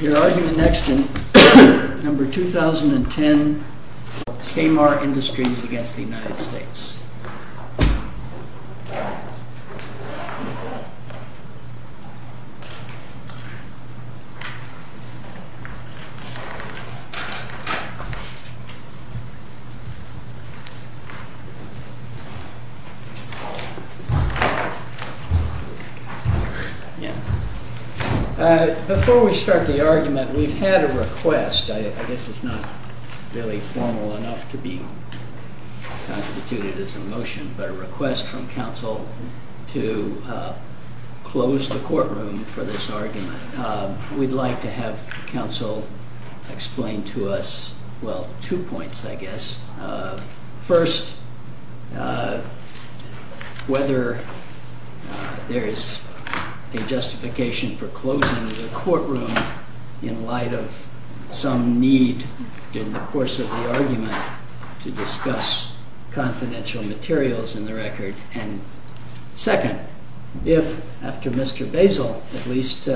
Your argument next in number 2010, K-MAR Industries against the United States. Before we start the argument, we've had a request. I guess it's not really formal enough to be constituted as a motion, but a request from counsel to close the courtroom for this argument. We'd like to have counsel explain to us, well, two points, I guess. First, whether there is a justification for closing the courtroom in light of some need in the course of the argument to discuss confidential materials in the record. And second, if, after Mr. Basil at least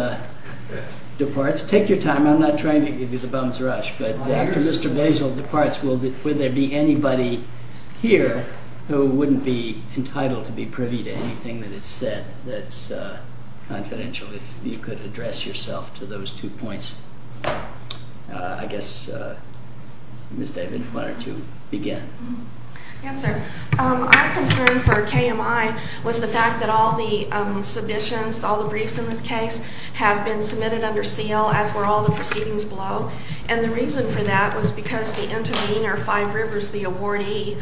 departs, take your time. I'm not trying to give you the bum's rush. But after Mr. Basil departs, will there be anybody here who wouldn't be entitled to be privy to anything that is said that's confidential, if you could address yourself to those two points? I guess, Ms. David, why don't you begin? Yes, sir. Our concern for KMI was the fact that all the submissions, all the briefs in this case, have been submitted under seal, as were all the proceedings below. And the reason for that was because the intervener, Five Rivers, the awardee,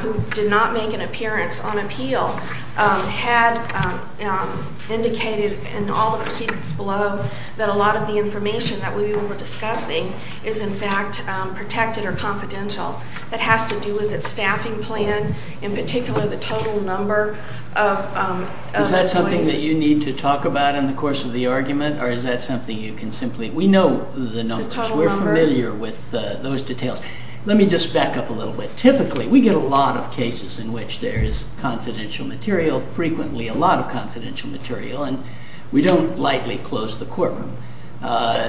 who did not make an appearance on appeal, had indicated in all the proceedings below that a lot of the information that we were discussing is, in fact, protected or confidential. That has to do with its staffing plan, in particular, the total number of employees. Is that something that you need to talk about in the course of the argument? Or is that something you can simply? We know the numbers. We're familiar with those details. Let me just back up a little bit. Typically, we get a lot of cases in which there is confidential material, frequently a lot of confidential material. And we don't lightly close the courtroom.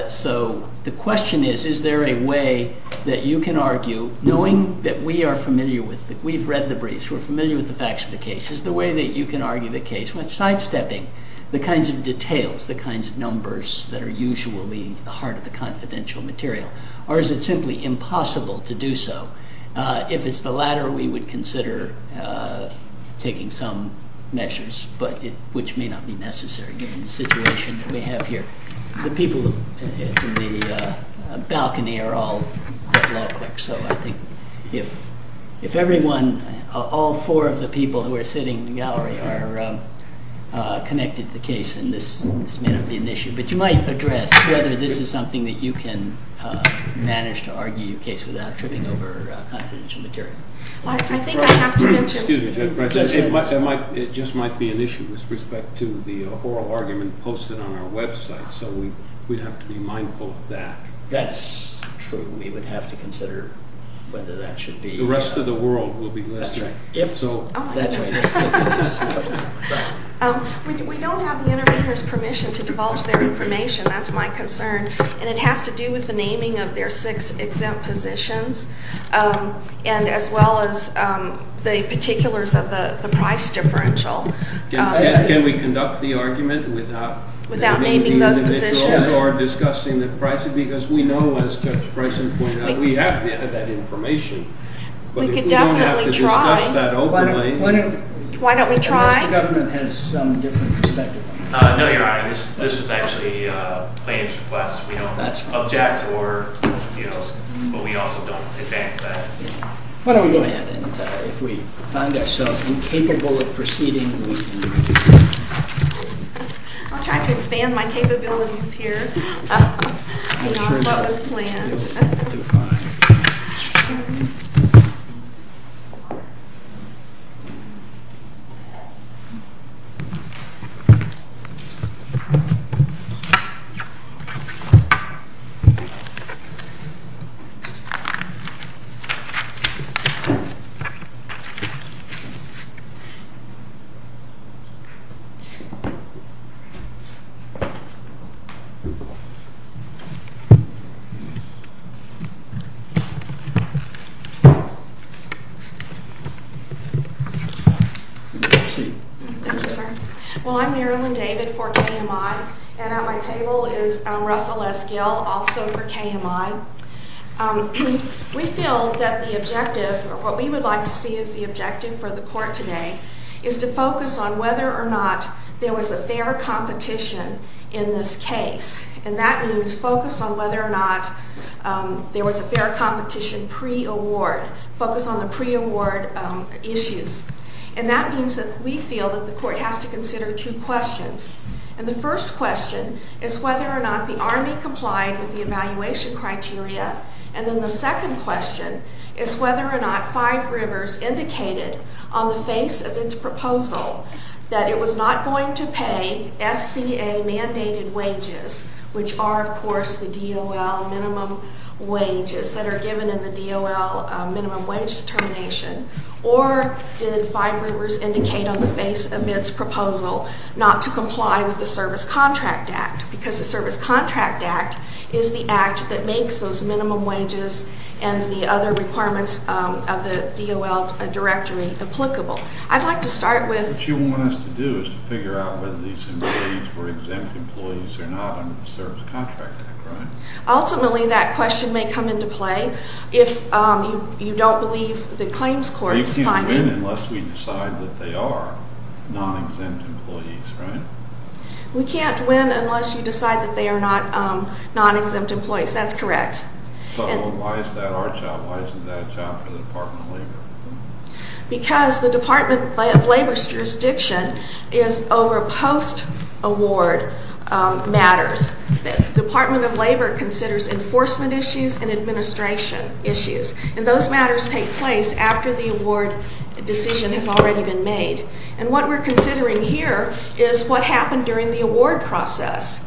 So the question is, is there a way that you can argue, knowing that we are familiar with it, we've read the briefs, we're familiar with the facts of the case, is there a way that you can argue the case? We're not sidestepping the kinds of details, the kinds of numbers that are usually the heart of the confidential material. Or is it simply impossible to do so? If it's the latter, we would consider taking some measures, which may not be necessary given the situation that we have here. The people in the balcony are all law clerks. So I think if all four of the people who are sitting in the gallery are connected to the case, then this may not be an issue. But you might address whether this is something that you can manage to argue your case without tripping over confidential material. I think I have to mention. Excuse me, Judge Brennan. It just might be an issue with respect to the oral argument posted on our website. So we'd have to be mindful of that. That's true. We would have to consider whether that should be. The rest of the world will be listening. That's right. That's right. We don't have the intervener's permission to divulge their information. That's my concern. And it has to do with the naming of their six exempt positions, and as well as the particulars of the price differential. Can we conduct the argument without naming those positions? Or discussing the pricing? Because we know, as Judge Bryson pointed out, we have to have that information. We could definitely try. But if we don't have to discuss that openly. Why don't we try? Unless the government has some different perspective on this. No, Your Honor. This is actually a plaintiff's request. We don't object or anything else. But we also don't advance that. Why don't we go ahead, and if we find ourselves incapable of proceeding, we can do so. I'll try to expand my capabilities here. I'm not sure that's what was planned. You'll do fine. Thank you. Thank you, sir. Well, I'm Marilyn David for KMI, and at my table is Russell S. Gill, also for KMI. We feel that the objective, or what we would like to see as the objective for the court today, is to focus on whether or not there was a fair competition in this case. And that means focus on whether or not there was a fair competition pre-award. Focus on the pre-award issues. And that means that we feel that the court has to consider two questions. And the first question is whether or not the Army complied with the evaluation criteria. And then the second question is whether or not Five Rivers indicated on the face of its proposal that it was not going to pay SCA-mandated wages, which are, of course, the DOL minimum wages that are given in the DOL minimum wage determination. Or did Five Rivers indicate on the face of its proposal not to comply with the Service Contract Act? Because the Service Contract Act is the act that makes those minimum wages and the other requirements of the DOL directory applicable. I'd like to start with- What you want us to do is to figure out whether these employees were exempt employees or not under the Service Contract Act, right? Ultimately, that question may come into play. If you don't believe the claims court's finding- They can't win unless we decide that they are non-exempt employees, right? We can't win unless you decide that they are not non-exempt employees. That's correct. So why is that our job? Why isn't that a job for the Department of Labor? Because the Department of Labor's jurisdiction is over post-award matters. Department of Labor considers enforcement issues and administration issues. And those matters take place after the award decision has already been made. And what we're considering here is what happened during the award process.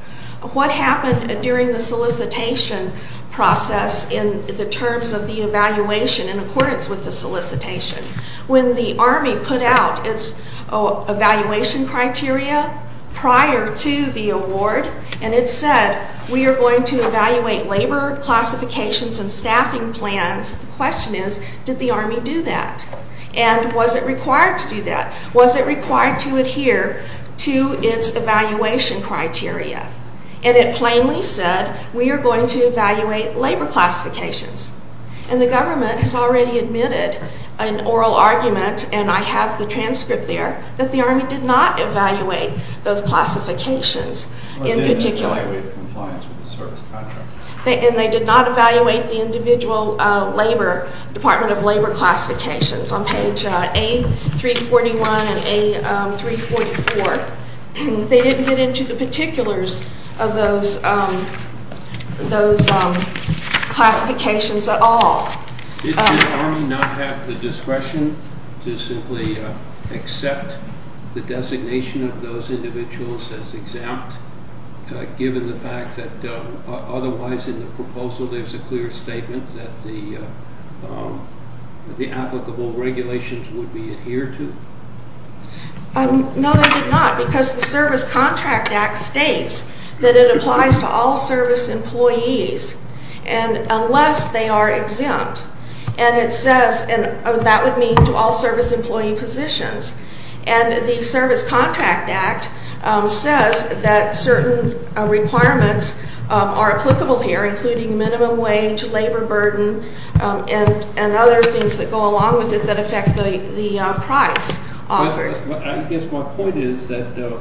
What happened during the solicitation process in the terms of the evaluation in accordance with the solicitation? When the Army put out its evaluation criteria prior to the award, and it said, we are going to evaluate labor classifications and staffing plans, the question is, did the Army do that? And was it required to do that? Was it required to adhere to its evaluation criteria? And it plainly said, we are going to evaluate labor classifications. And the government has already admitted an oral argument, and I have the transcript there, that the Army did not evaluate those classifications in particular. Well, they did not evaluate compliance with the service contract. And they did not evaluate the individual Department of Labor classifications on page A341 and A344. They didn't get into the particulars of those classifications at all. Did the Army not have the discretion to simply accept the designation of those individuals until there's a clear statement that the applicable regulations would be adhered to? No, they did not. Because the Service Contract Act states that it applies to all service employees unless they are exempt. And that would mean to all service employee positions. And the Service Contract Act says that certain requirements are applicable here, including minimum wage, labor burden, and other things that go along with it that affect the price offered. I guess my point is that the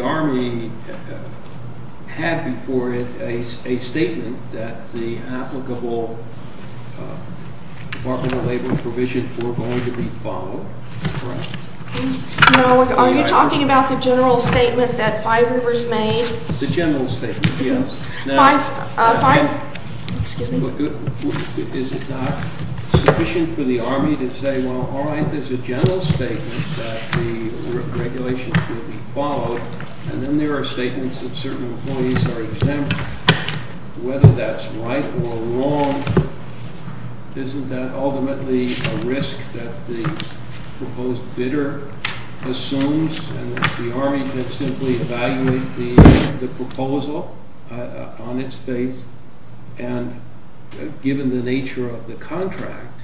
Army had before it a statement that the applicable Department of Labor provisions were going to be followed. No, are you talking about the general statement that five members made? The general statement, yes. Five? Five? Excuse me. Is it not sufficient for the Army to say, well, all right, there's a general statement that the regulations will be followed. And then there are statements that certain employees are exempt. Whether that's right or wrong, isn't that ultimately a risk that the proposed bidder assumes? And if the Army could simply evaluate the proposal on its face, and given the nature of the contract,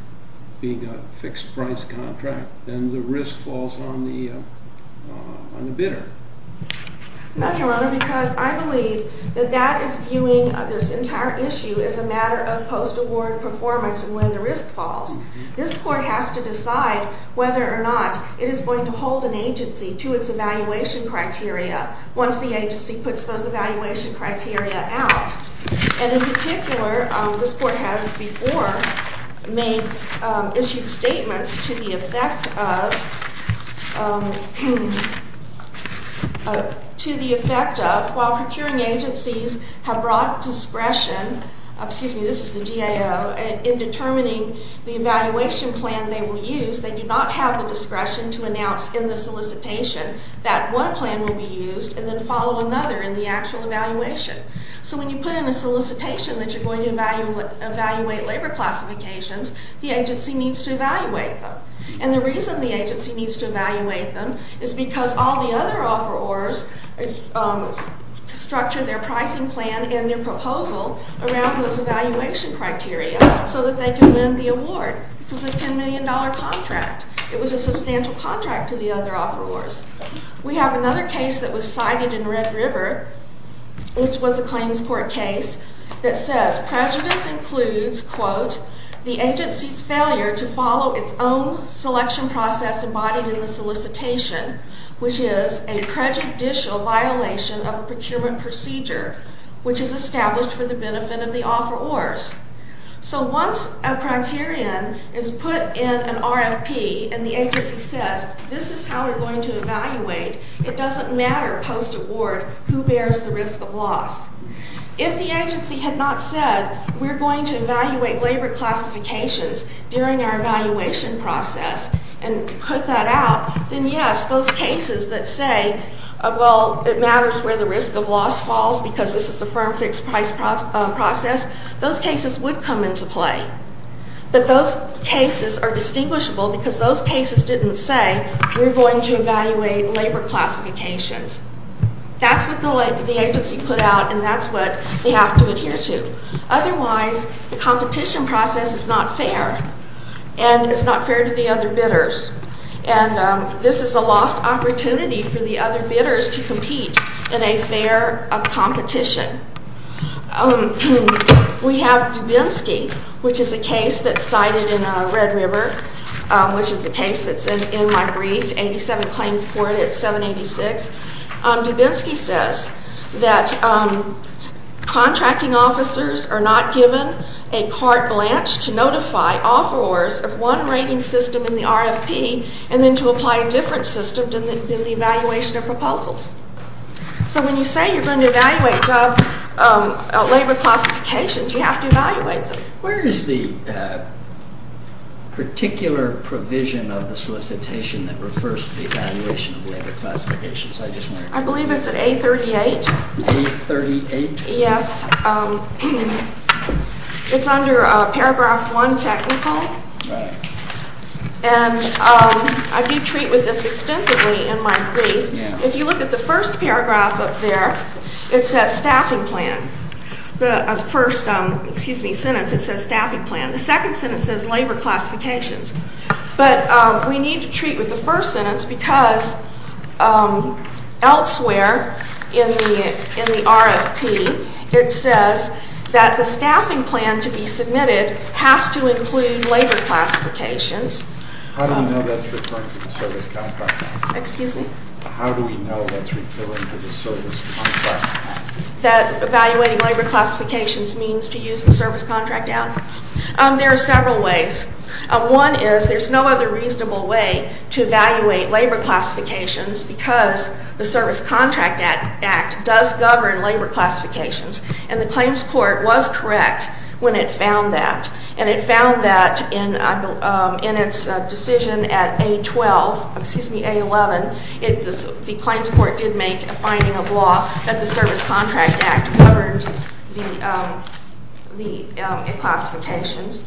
being a fixed price contract, then the risk falls on the bidder. No, Your Honor, because I believe that that is viewing of this entire issue as a matter of post-award performance and when the risk falls. This court has to decide whether or not it is going to hold an agency to its evaluation criteria once the agency puts those evaluation criteria out. And in particular, this court has before made issued statements to the effect of, while procuring agencies have brought discretion, excuse me, this is the GAO, in determining the evaluation plan they will use, they do not have the discretion to announce in the solicitation that one plan will be used and then follow another in the actual evaluation. So when you put in a solicitation that you're going to evaluate labor classifications, the agency needs to evaluate them. And the reason the agency needs to evaluate them is because all the other offerors structure around those evaluation criteria so that they can win the award. This was a $10 million contract. It was a substantial contract to the other offerors. We have another case that was cited in Red River, which was a claims court case, that says prejudice includes, quote, the agency's failure to follow its own selection process embodied in the solicitation, which is a prejudicial violation of a procurement procedure, which is established for the benefit of the offerors. So once a criterion is put in an RFP and the agency says, this is how we're going to evaluate, it doesn't matter post-award who bears the risk of loss. If the agency had not said, we're going to evaluate labor classifications during our evaluation process and put that out, then yes, those cases that say, well, it matters where the risk of loss falls because this is the firm fixed price process, those cases would come into play. But those cases are distinguishable because those cases didn't say, we're going to evaluate labor classifications. That's what the agency put out, and that's what they have to adhere to. Otherwise, the competition process is not fair, and it's not fair to the other bidders. And this is a lost opportunity for the other bidders to compete in a fair competition. We have Dubinsky, which is a case that's cited in Red River, which is a case that's in my brief, 87 claims court at 786. Dubinsky says that contracting officers are not given a carte blanche to notify offerors of one rating system in the RFP and then to apply a different system than the evaluation of proposals. So when you say you're going to evaluate labor classifications, you have to evaluate them. Where is the particular provision of the solicitation that refers to the evaluation of labor classifications? I believe it's at A38. A38? Yes. It's under paragraph one technical. And I do treat with this extensively in my brief. If you look at the first paragraph up there, it says staffing plan. The first sentence, it says staffing plan. The second sentence says labor classifications. But we need to treat with the first sentence because elsewhere in the RFP, it says that the staffing plan to be submitted has to include labor classifications. How do we know that's referring to the service contract? Excuse me? How do we know that's referring to the service contract? That evaluating labor classifications means to use the service contract act? There are several ways. One is there's no other reasonable way to evaluate labor classifications because the service contract act does govern labor classifications. And the claims court was correct when it found that. And it found that in its decision at A12, excuse me, A11, the claims court did make a finding of law that the service contract act governed the classifications.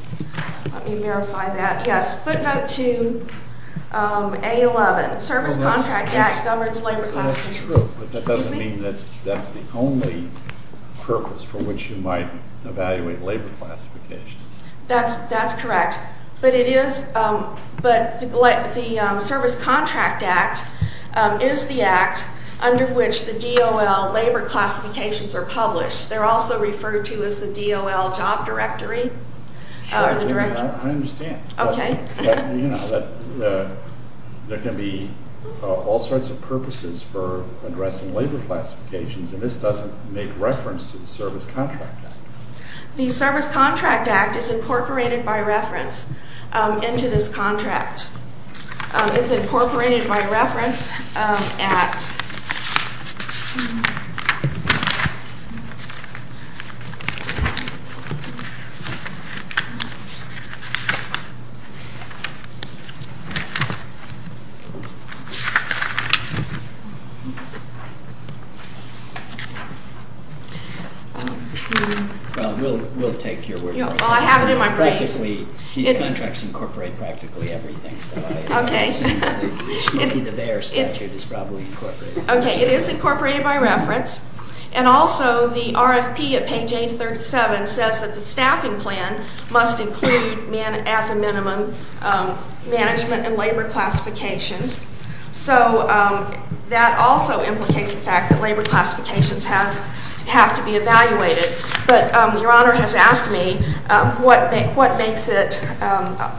Let me verify that. Yes, footnote two, A11, service contract act governs labor classifications. That doesn't mean that that's the only purpose for which you might evaluate labor classifications. That's correct. But it is. But the service contract act is the act under which the DOL labor classifications are published. They're also referred to as the DOL job directory, or the directory. I understand. OK. You know, there can be all sorts of purposes for addressing labor classifications. And this doesn't make reference to the service contract act. The service contract act is incorporated by reference into this contract. It's incorporated by reference at. Well, we'll take your word for it. Well, I have it in my brain. Practically, these contracts incorporate practically everything. OK. It should be the Bayer statute is probably incorporated. OK, it is incorporated by reference. And also, the RFP at page 837 says that the staffing plan must include, as a minimum, management and labor classifications. So that also implicates the fact that labor classifications have to be evaluated. But your honor has asked me, what makes it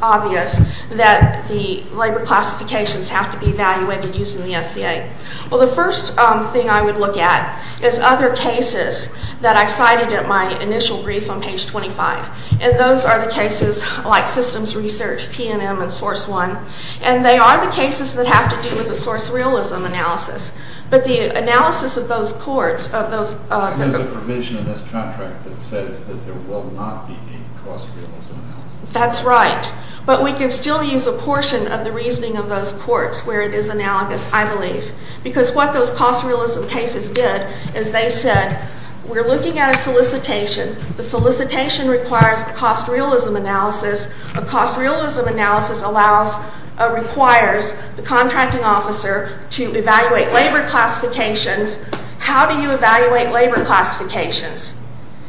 obvious that the labor classifications have to be evaluated using the SCA? Well, the first thing I would look at is other cases that I cited at my initial brief on page 25. And those are the cases like systems research, TNM, and source one. And they are the cases that have to do with the source realism analysis. But the analysis of those courts, of those There's a provision in this contract that says that there will not be any cost realism analysis. That's right. But we can still use a portion of the reasoning of those courts where it is analogous, I believe. Because what those cost realism cases did is they said, we're looking at a solicitation. The solicitation requires a cost realism analysis. A cost realism analysis requires the contracting officer to evaluate labor classifications. How do you evaluate labor classifications?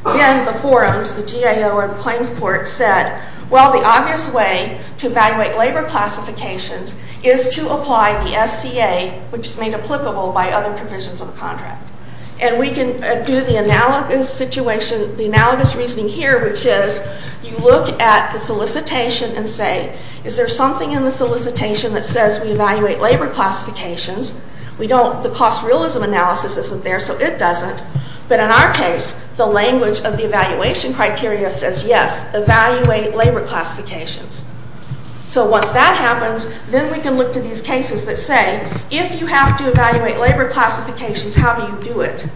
Again, the forums, the GAO, or the claims court said, well, the obvious way to evaluate labor classifications is to apply the SCA, which is made applicable by other provisions of the contract. And we can do the analogous reasoning here, which is you look at the solicitation and say, is there something in the solicitation that says we evaluate labor classifications? The cost realism analysis isn't there, so it doesn't. But in our case, the language of the evaluation criteria says, yes, evaluate labor classifications. So once that happens, then we can look to these cases that say, if you have to evaluate labor classifications, how do you do it?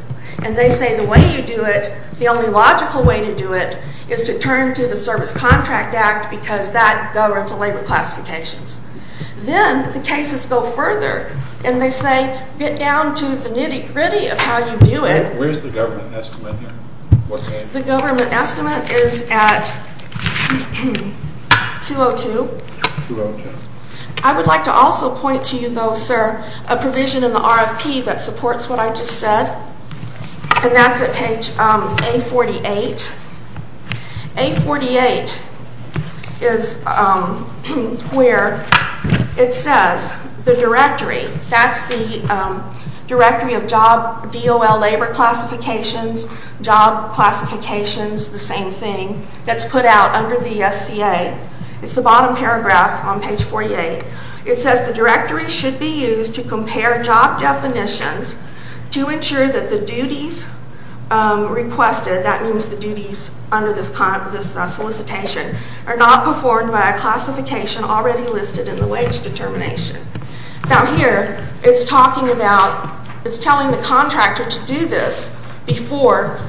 And they say, the way you do it, the only logical way to do it is to turn to the Service Contract Act because that governs the labor classifications. Then the cases go further. And they say, get down to the nitty gritty of how you do it. Where's the government estimate here? The government estimate is at 202. I would like to also point to you, though, sir, a provision in the RFP that supports what I just said. And that's at page A48. A48 is where it says the directory. That's the directory of job DOL labor classifications, job classifications, the same thing, that's put out under the SCA. It's the bottom paragraph on page 48. It says, the directory should be used to compare job definitions to ensure that the duties requested, that means the duties under this solicitation, are not performed by a classification already listed in the wage determination. Now here, it's talking about, it's telling the contractor to do this before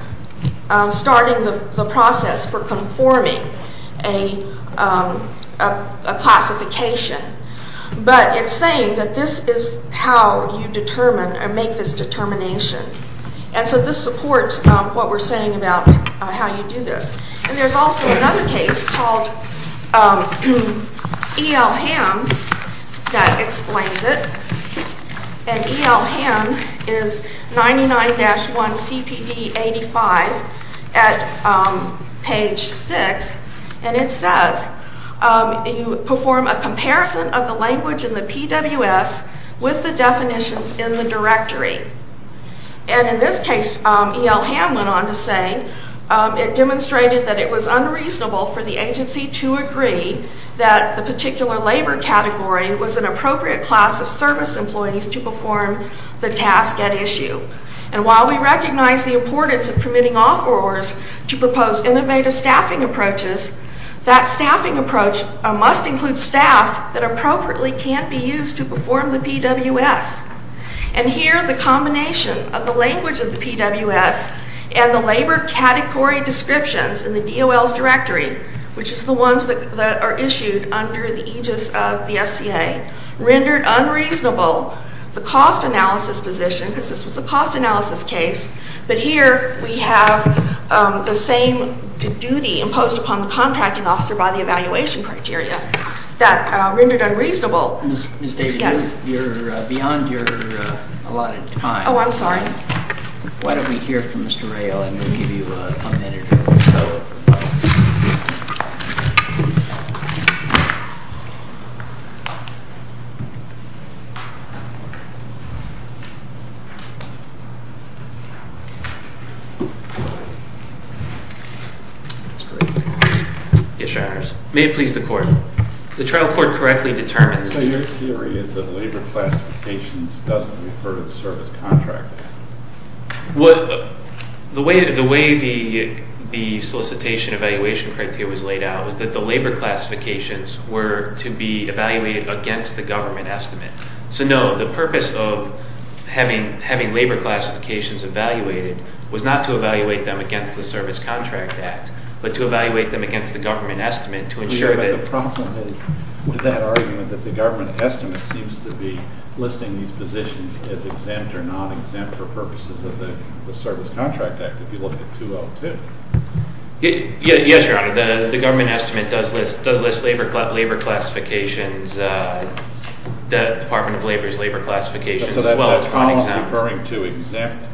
starting the process for conforming a classification. But it's saying that this is how you determine or make this determination. And so this supports what we're saying about how you do this. And there's also another case called EL Ham that explains it. And EL Ham is 99-1 CPD 85 at page 6. And it says, you perform a comparison of the language in the PWS with the definitions in the directory. And in this case, EL Ham went on to say, it demonstrated that it was unreasonable for the agency to agree that the particular labor category was an appropriate class of service employees to perform the task at issue. And while we recognize the importance of permitting offerors to propose innovative staffing approaches, that staffing approach must include staff that appropriately can be used to perform the PWS. And here, the combination of the language of the PWS and the labor category descriptions in the DOL's directory, which is the ones that are issued under the aegis of the SCA, rendered unreasonable the cost analysis position, because this was a cost analysis case. But here, we have the same duty imposed upon the contracting officer by the evaluation criteria that rendered unreasonable. Ms. Davis, you're beyond your allotted time. Oh, I'm sorry. Why don't we hear from Mr. Rayl, and we'll give you a minute to follow up with him. Yes, your honors. May it please the court. The trial court correctly determined that your theory is that labor classifications doesn't refer to the service contract act. The way the solicitation evaluation criteria was laid out was that the labor classifications were to be evaluated against the government estimate. So no, the purpose of having labor classifications evaluated was not to evaluate them against the service contract act, but to evaluate them against the government estimate to ensure that the problem is with that argument that the government estimate seems to be listing these positions as exempt or non-exempt for purposes of the service contract act, if you look at 202. Yes, your honor. The government estimate does list labor classifications, the Department of Labor's labor classifications as well as non-exempt. So that column referring to exempt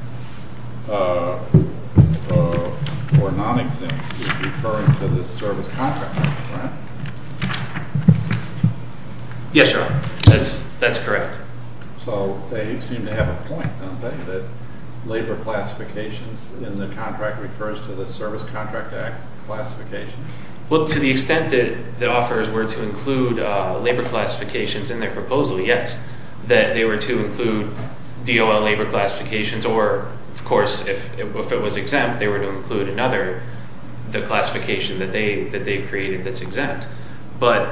or non-exempt is referring to the service contract act, correct? Yes, your honor. That's correct. So they seem to have a point, don't they, that labor classifications in the contract refers to the service contract act classifications? Well, to the extent that the offers were to include labor classifications in their proposal, yes. That they were to include DOL labor classifications, or of course, if it was exempt, they were to include another, the classification that they've created that's exempt. But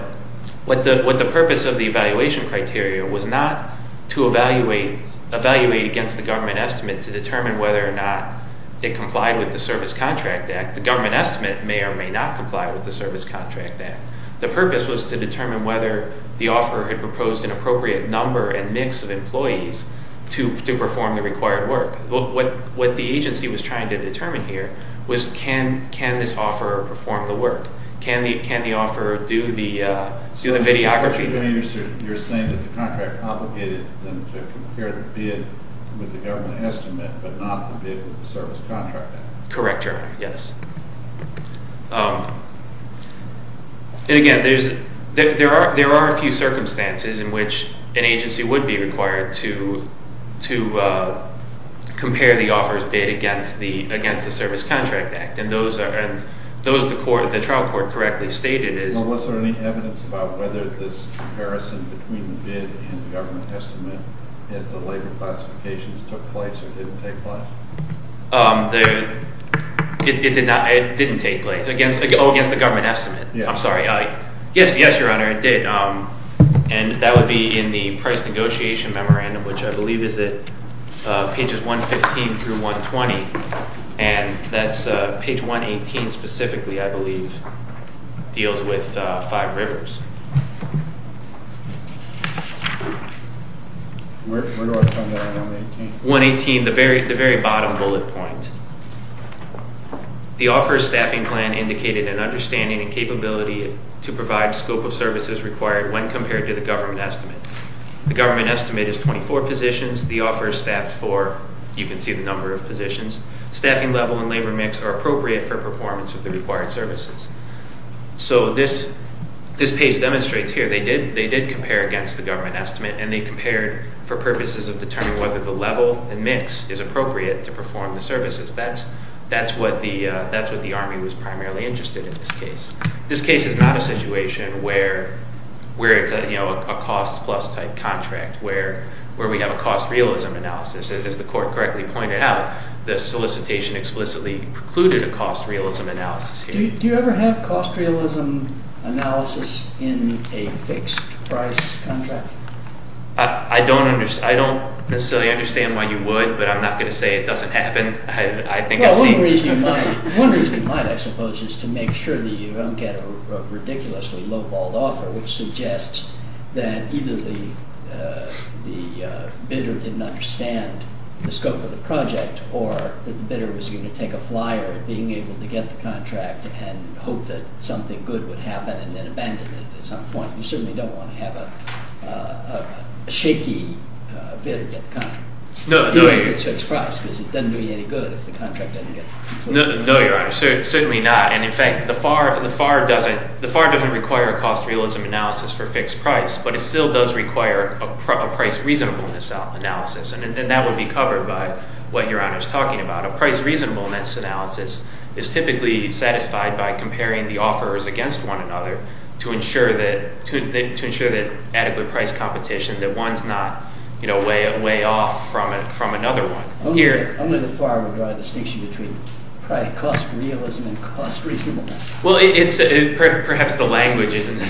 what the purpose of the evaluation criteria was not to evaluate against the government estimate to determine whether or not it complied with the service contract act. The government estimate may or may not comply with the service contract act. The purpose was to determine whether the offer had proposed an appropriate number and mix of employees to perform the required work. But what the agency was trying to determine here was can this offer perform the work? Can the offer do the videography? So you're saying that the contract obligated them to compare the bid with the government estimate, but not the bid with the service contract act? Correct, your honor, yes. And again, there are a few circumstances in which an agency would be required to compare the offer's bid against the service contract act. And those the trial court correctly stated is. Well, was there any evidence about whether this comparison between the bid and the government estimate at the labor classifications took place or didn't take place? It did not. It didn't take place. Oh, against the government estimate. I'm sorry. Yes, your honor, it did. And that would be in the price negotiation memorandum, which I believe is at pages 115 through 120. And that's page 118 specifically, I believe, deals with five rivers. Where do I come in on 118? 118, the very bottom bullet point. The offer staffing plan indicated an understanding and capability to provide scope of services required when compared to the government estimate. The government estimate is 24 positions. The offer is staffed for, you can see the number of positions. Staffing level and labor mix are appropriate for performance of the required services. So this page demonstrates here, they did compare against the government estimate. And they compared for purposes of determining whether the level and mix is appropriate to perform the services. That's what the Army was primarily interested in this case. This case is not a situation where it's a cost plus type contract, where we have a cost realism analysis. As the court correctly pointed out, the solicitation explicitly precluded a cost realism analysis here. Do you ever have cost realism analysis in a fixed price contract? I don't necessarily understand why you would, but I'm not going to say it doesn't happen. I think I've seen this before. One reason you might, I suppose, is to make sure that you don't get a ridiculously low-balled offer, which suggests that either the bidder didn't understand the scope of the project, or that the bidder was going to take a flyer at being able to get the contract and hope that something good would happen, and then abandon it at some point. You certainly don't want to have a shaky bid to get the contract. No, no, Your Honor. Even if it's fixed price, because it doesn't do you any good if the contract doesn't get completed. No, Your Honor. Certainly not. And in fact, the FAR doesn't require a cost realism analysis for fixed price, but it still does require a price reasonableness analysis. And that would be covered by what Your Honor is talking about. A price reasonableness analysis is typically satisfied by comparing the offers against one another to ensure that adequate price competition, that one's not way off from another one. Here. I'm going to the FAR with my distinction between cost realism and cost reasonableness. Well, perhaps the language doesn't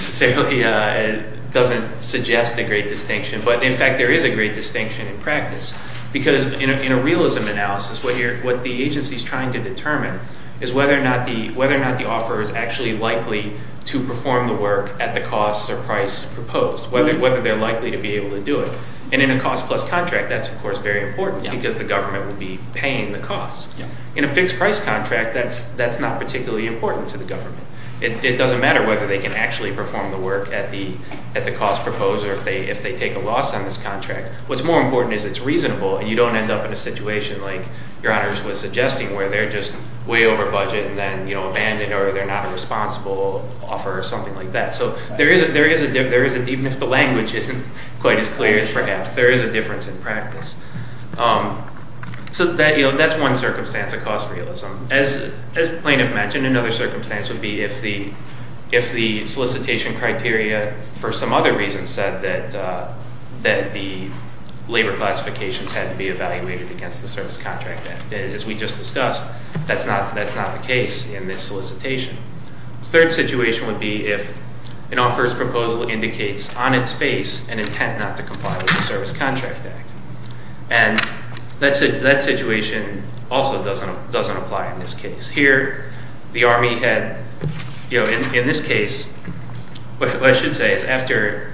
suggest a great distinction. But in fact, there is a great distinction in practice. Because in a realism analysis, what the agency is trying to determine is whether or not the offer is actually likely to perform the work at the cost or price proposed, whether they're likely to be able to do it. And in a cost plus contract, that's of course very important, because the government would be paying the cost. In a fixed price contract, that's not particularly important to the government. It doesn't matter whether they can actually perform the work at the cost proposed or if they take a loss on this contract. What's more important is it's reasonable, and you don't end up in a situation like Your Honor was suggesting, where they're just way over budget and then abandoned, or they're not a responsible offer or something like that. So there is a difference. Even if the language isn't quite as clear as perhaps, there is a difference in practice. So that's one circumstance of cost realism. As the plaintiff mentioned, another circumstance would be if the solicitation criteria for some other reason said that the labor classifications had to be evaluated against the Service Contract Act. As we just discussed, that's not the case in this solicitation. Third situation would be if an offeror's proposal indicates on its face an intent not to comply with the Service Contract Act. And that situation also doesn't apply in this case. Here, the Army had, in this case, what I should say is after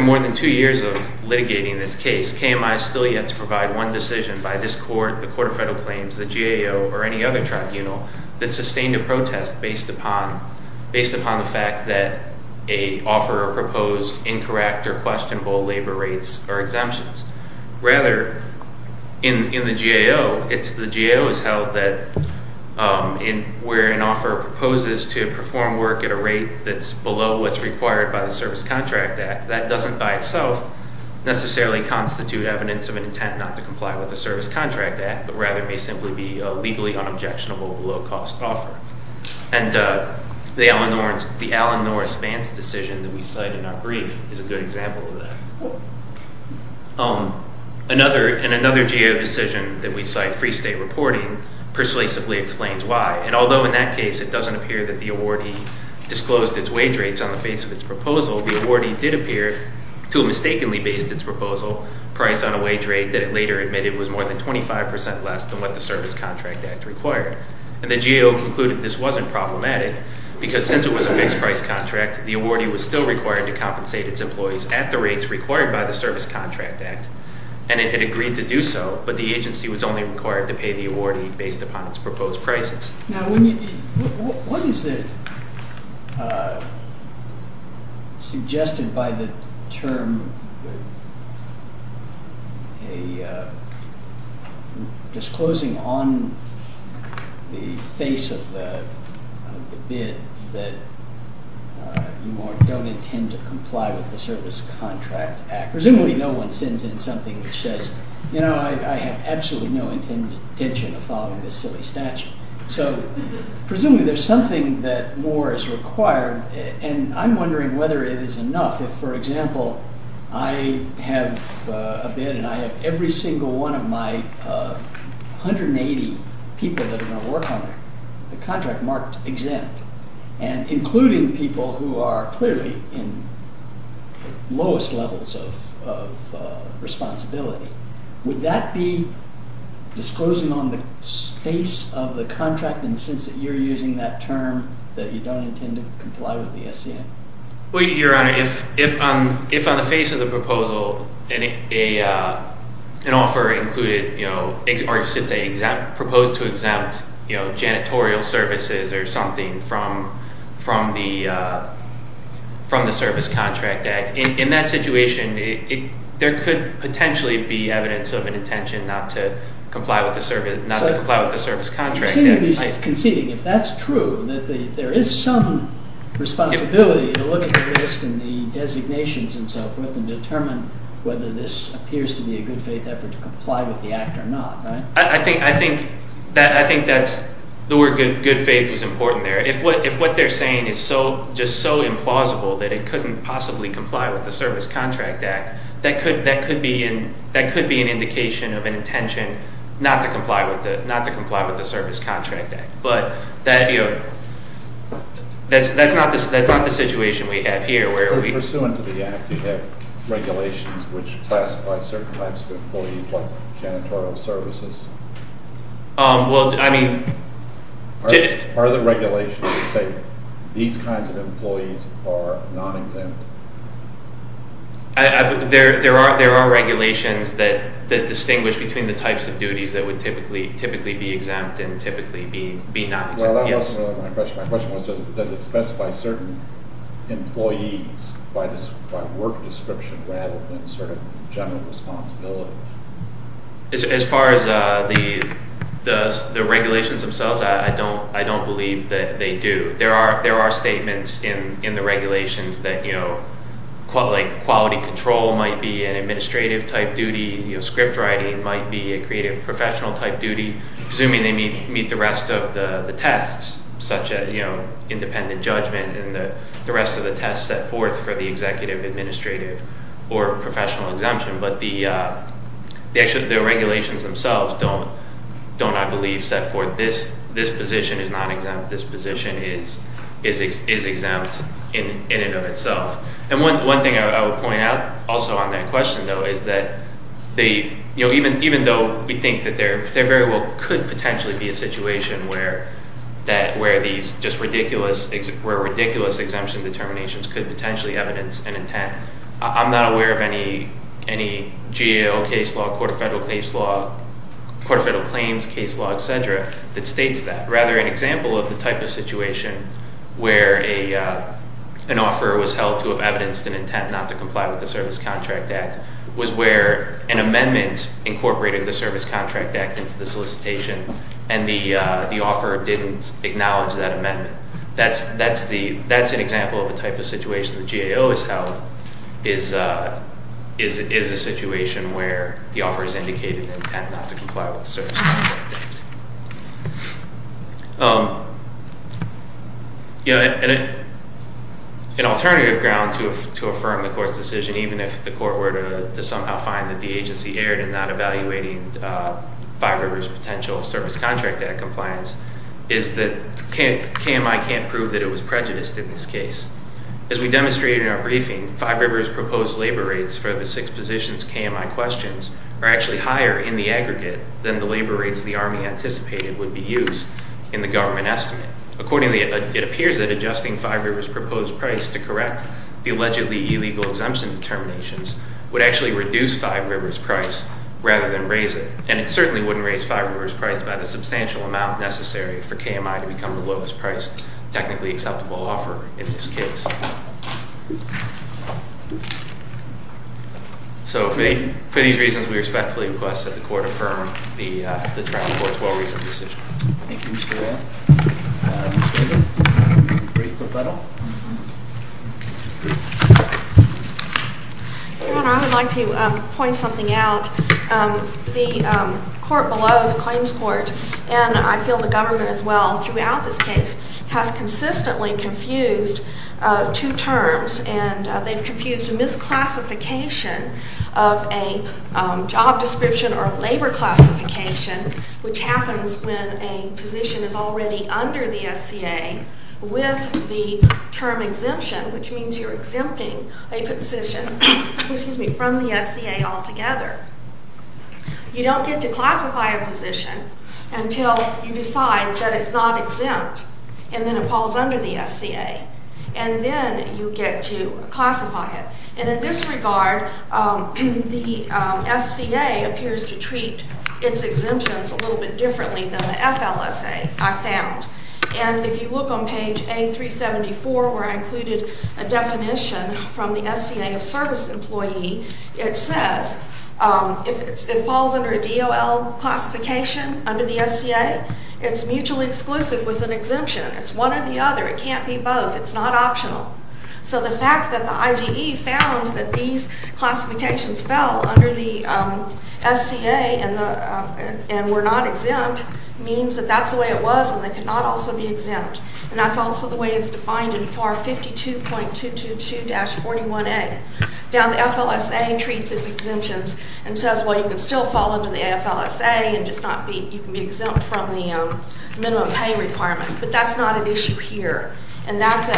more than two years of litigating this case, KMI is still yet to provide one decision by this court, the Court of Federal Claims, the GAO, or any other tribunal that sustained a protest based upon the fact that an offeror proposed incorrect or questionable labor rates or exemptions. Rather, in the GAO, the GAO has held that where an offeror proposes to perform work at a rate that's below what's required by the Service Contract Act, that doesn't by itself necessarily constitute evidence of an intent not to comply with the Service Contract Act, but rather may simply be a legally unobjectionable, below-cost offer. And the Alan Norris-Vance decision that we cite in our brief is a good example of that. And another GAO decision that we cite, Free State Reporting, persuasively explains why. And although in that case, it doesn't appear that the awardee disclosed its wage rates on the face of its proposal, the awardee did appear to have mistakenly based its proposal price on a wage rate that it later admitted was more than 25% less than what the Service Contract Act required. And the GAO concluded this wasn't problematic, because since it was a fixed-price contract, the awardee was still required to compensate its employees at the rates required by the Service Contract Act. And it had agreed to do so, but the agency was only required to pay the awardee based upon its proposed prices. Now, what is it suggested by the term disclosing on the face of the bid that you don't intend to comply with the Service Contract Act? Presumably, no one sends in something that says, you know, I have absolutely no intention of following this silly statute. So presumably, there's something that more is required. And I'm wondering whether it is enough if, for example, I have a bid, and I have every single one of my 180 people that are going to work on it, the contract marked exempt, and including people who are clearly in the lowest levels of responsibility. Would that be disclosing on the face of the contract, in the sense that you're using that term that you don't intend to comply with the SCA? Well, Your Honor, if on the face of the proposal, an offer included, or I should say, proposed to exempt janitorial services or something from the Service Contract Act, in that situation, there could potentially be evidence of an intention not to comply with the Service Contract Act. Conceding, if that's true, that there is some responsibility to look at the list and the designations and so forth, and determine whether this appears to be a good faith effort to comply with the act or not, right? I think that's the word good faith was important there. If what they're saying is just so implausible that it couldn't possibly comply with the Service Contract Act, that could be an indication of an intention not to comply with the Service Contract Act. But that's not the situation we have here, where we- So pursuant to the act, you have regulations which classify certain types of employees like janitorial services? Are the regulations that say these kinds of employees are non-exempt? There are regulations that distinguish between the types of duties that would typically be exempt and typically be non-exempt. Well, that wasn't really my question. My question was, does it specify certain employees by work description rather than general responsibility? As far as the regulations themselves, I don't believe that they do. There are statements in the regulations that quality control might be an administrative type duty. Script writing might be a creative professional type duty, and they meet the rest of the tests, such as independent judgment and the rest of the tests set forth for the executive, administrative, or professional exemption. But the regulations themselves don't, I believe, set forth this position is non-exempt. This position is exempt in and of itself. And one thing I would point out also on that question, though, is that even though we think that there very well could potentially be a situation where ridiculous exemption determinations could potentially evidence an intent, I'm not aware of any GAO case law, court of federal claims case law, et cetera, that states that. Rather, an example of the type of situation where an offer was held to have evidenced an intent not to comply with the Service Contract Act was where an amendment incorporated the Service Contract Act into the solicitation, and the offer didn't acknowledge that amendment. That's an example of a type of situation the GAO has held is a situation where the offer is indicated an intent not to comply with the Service Contract Act. An alternative ground to affirm the court's decision, even if the court were to somehow find that the agency erred in not evaluating Five Rivers' potential Service Contract Act compliance, is that KMI can't prove that it was prejudiced in this case. As we demonstrated in our briefing, Five Rivers' proposed labor rates for the six positions KMI questions are actually higher in the aggregate than the labor rates the Army anticipated would be used in the government estimate. Accordingly, it appears that adjusting Five Rivers' proposed price to correct the allegedly illegal exemption determinations would actually reduce Five Rivers' price rather than raise it. And it certainly wouldn't raise Five Rivers' price by the substantial amount necessary for KMI to become the lowest-priced technically acceptable offer in this case. So for these reasons, we respectfully request that the court affirm the trial court's well-reasoned decision. Thank you, Mr. Rayl. Ms. Gable, can you please put that up? I would like to point something out. The court below, the claims court, and I feel the government as well throughout this case, has consistently confused two terms. And they've confused a misclassification of a job description or a labor classification, which happens when a position is already under the SCA with the term exemption, which means you're exempting a position from the SCA altogether. You don't get to classify a position until you decide that it's not exempt, and then it falls under the SCA. And then you get to classify it. And in this regard, the SCA appears to treat its exemptions a little bit differently than the FLSA, I found. And if you look on page A374, where I included a definition from the SCA of service employee, it says if it falls under a DOL classification under the SCA, it's mutually exclusive with an exemption. It's one or the other. It can't be both. It's not optional. So the fact that the IGE found that these classifications fell under the SCA and were not exempt means that that's the way it was, and they could not also be exempt. And that's also the way it's defined in FAR 52.222-41A. Now the FLSA treats its exemptions and says, well, you can still fall under the FLSA and just not be exempt from the minimum pay requirement. But that's not an issue here. And that's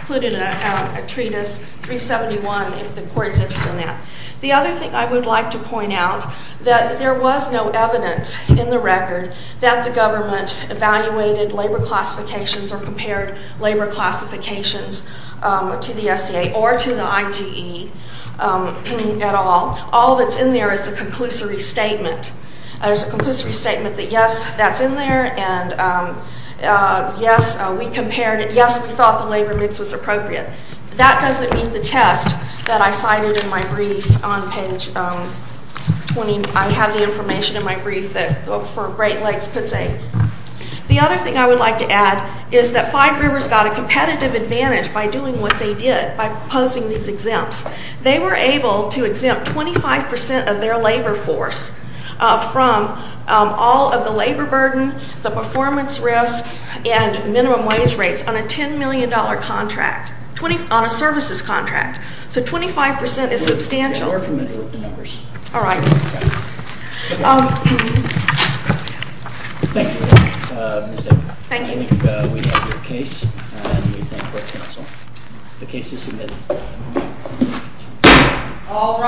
included in a treatise 371 if the court is interested in that. The other thing I would like to point out that there was no evidence in the record that the government evaluated labor classifications or compared labor classifications to the SCA or to the IGE at all. All that's in there is a conclusory statement. There's a conclusory statement that, yes, that's in there. And yes, we compared it. Yes, we thought the labor mix was appropriate. That doesn't meet the test that I cited in my brief on page 20. I have the information in my brief for Great Lakes-Pitts Lake. The other thing I would like to add is that Five Rivers got a competitive advantage by doing what they did, by posing these exempts. They were able to exempt 25% of their labor force from all of the labor burden, the performance risks, and minimum wage rates on a $10 million contract, on a services contract. So 25% is substantial. So we're familiar with the numbers. All right. Thank you, Ms. David. Thank you. I think we have your case, and we thank the council. The case is submitted. All rise.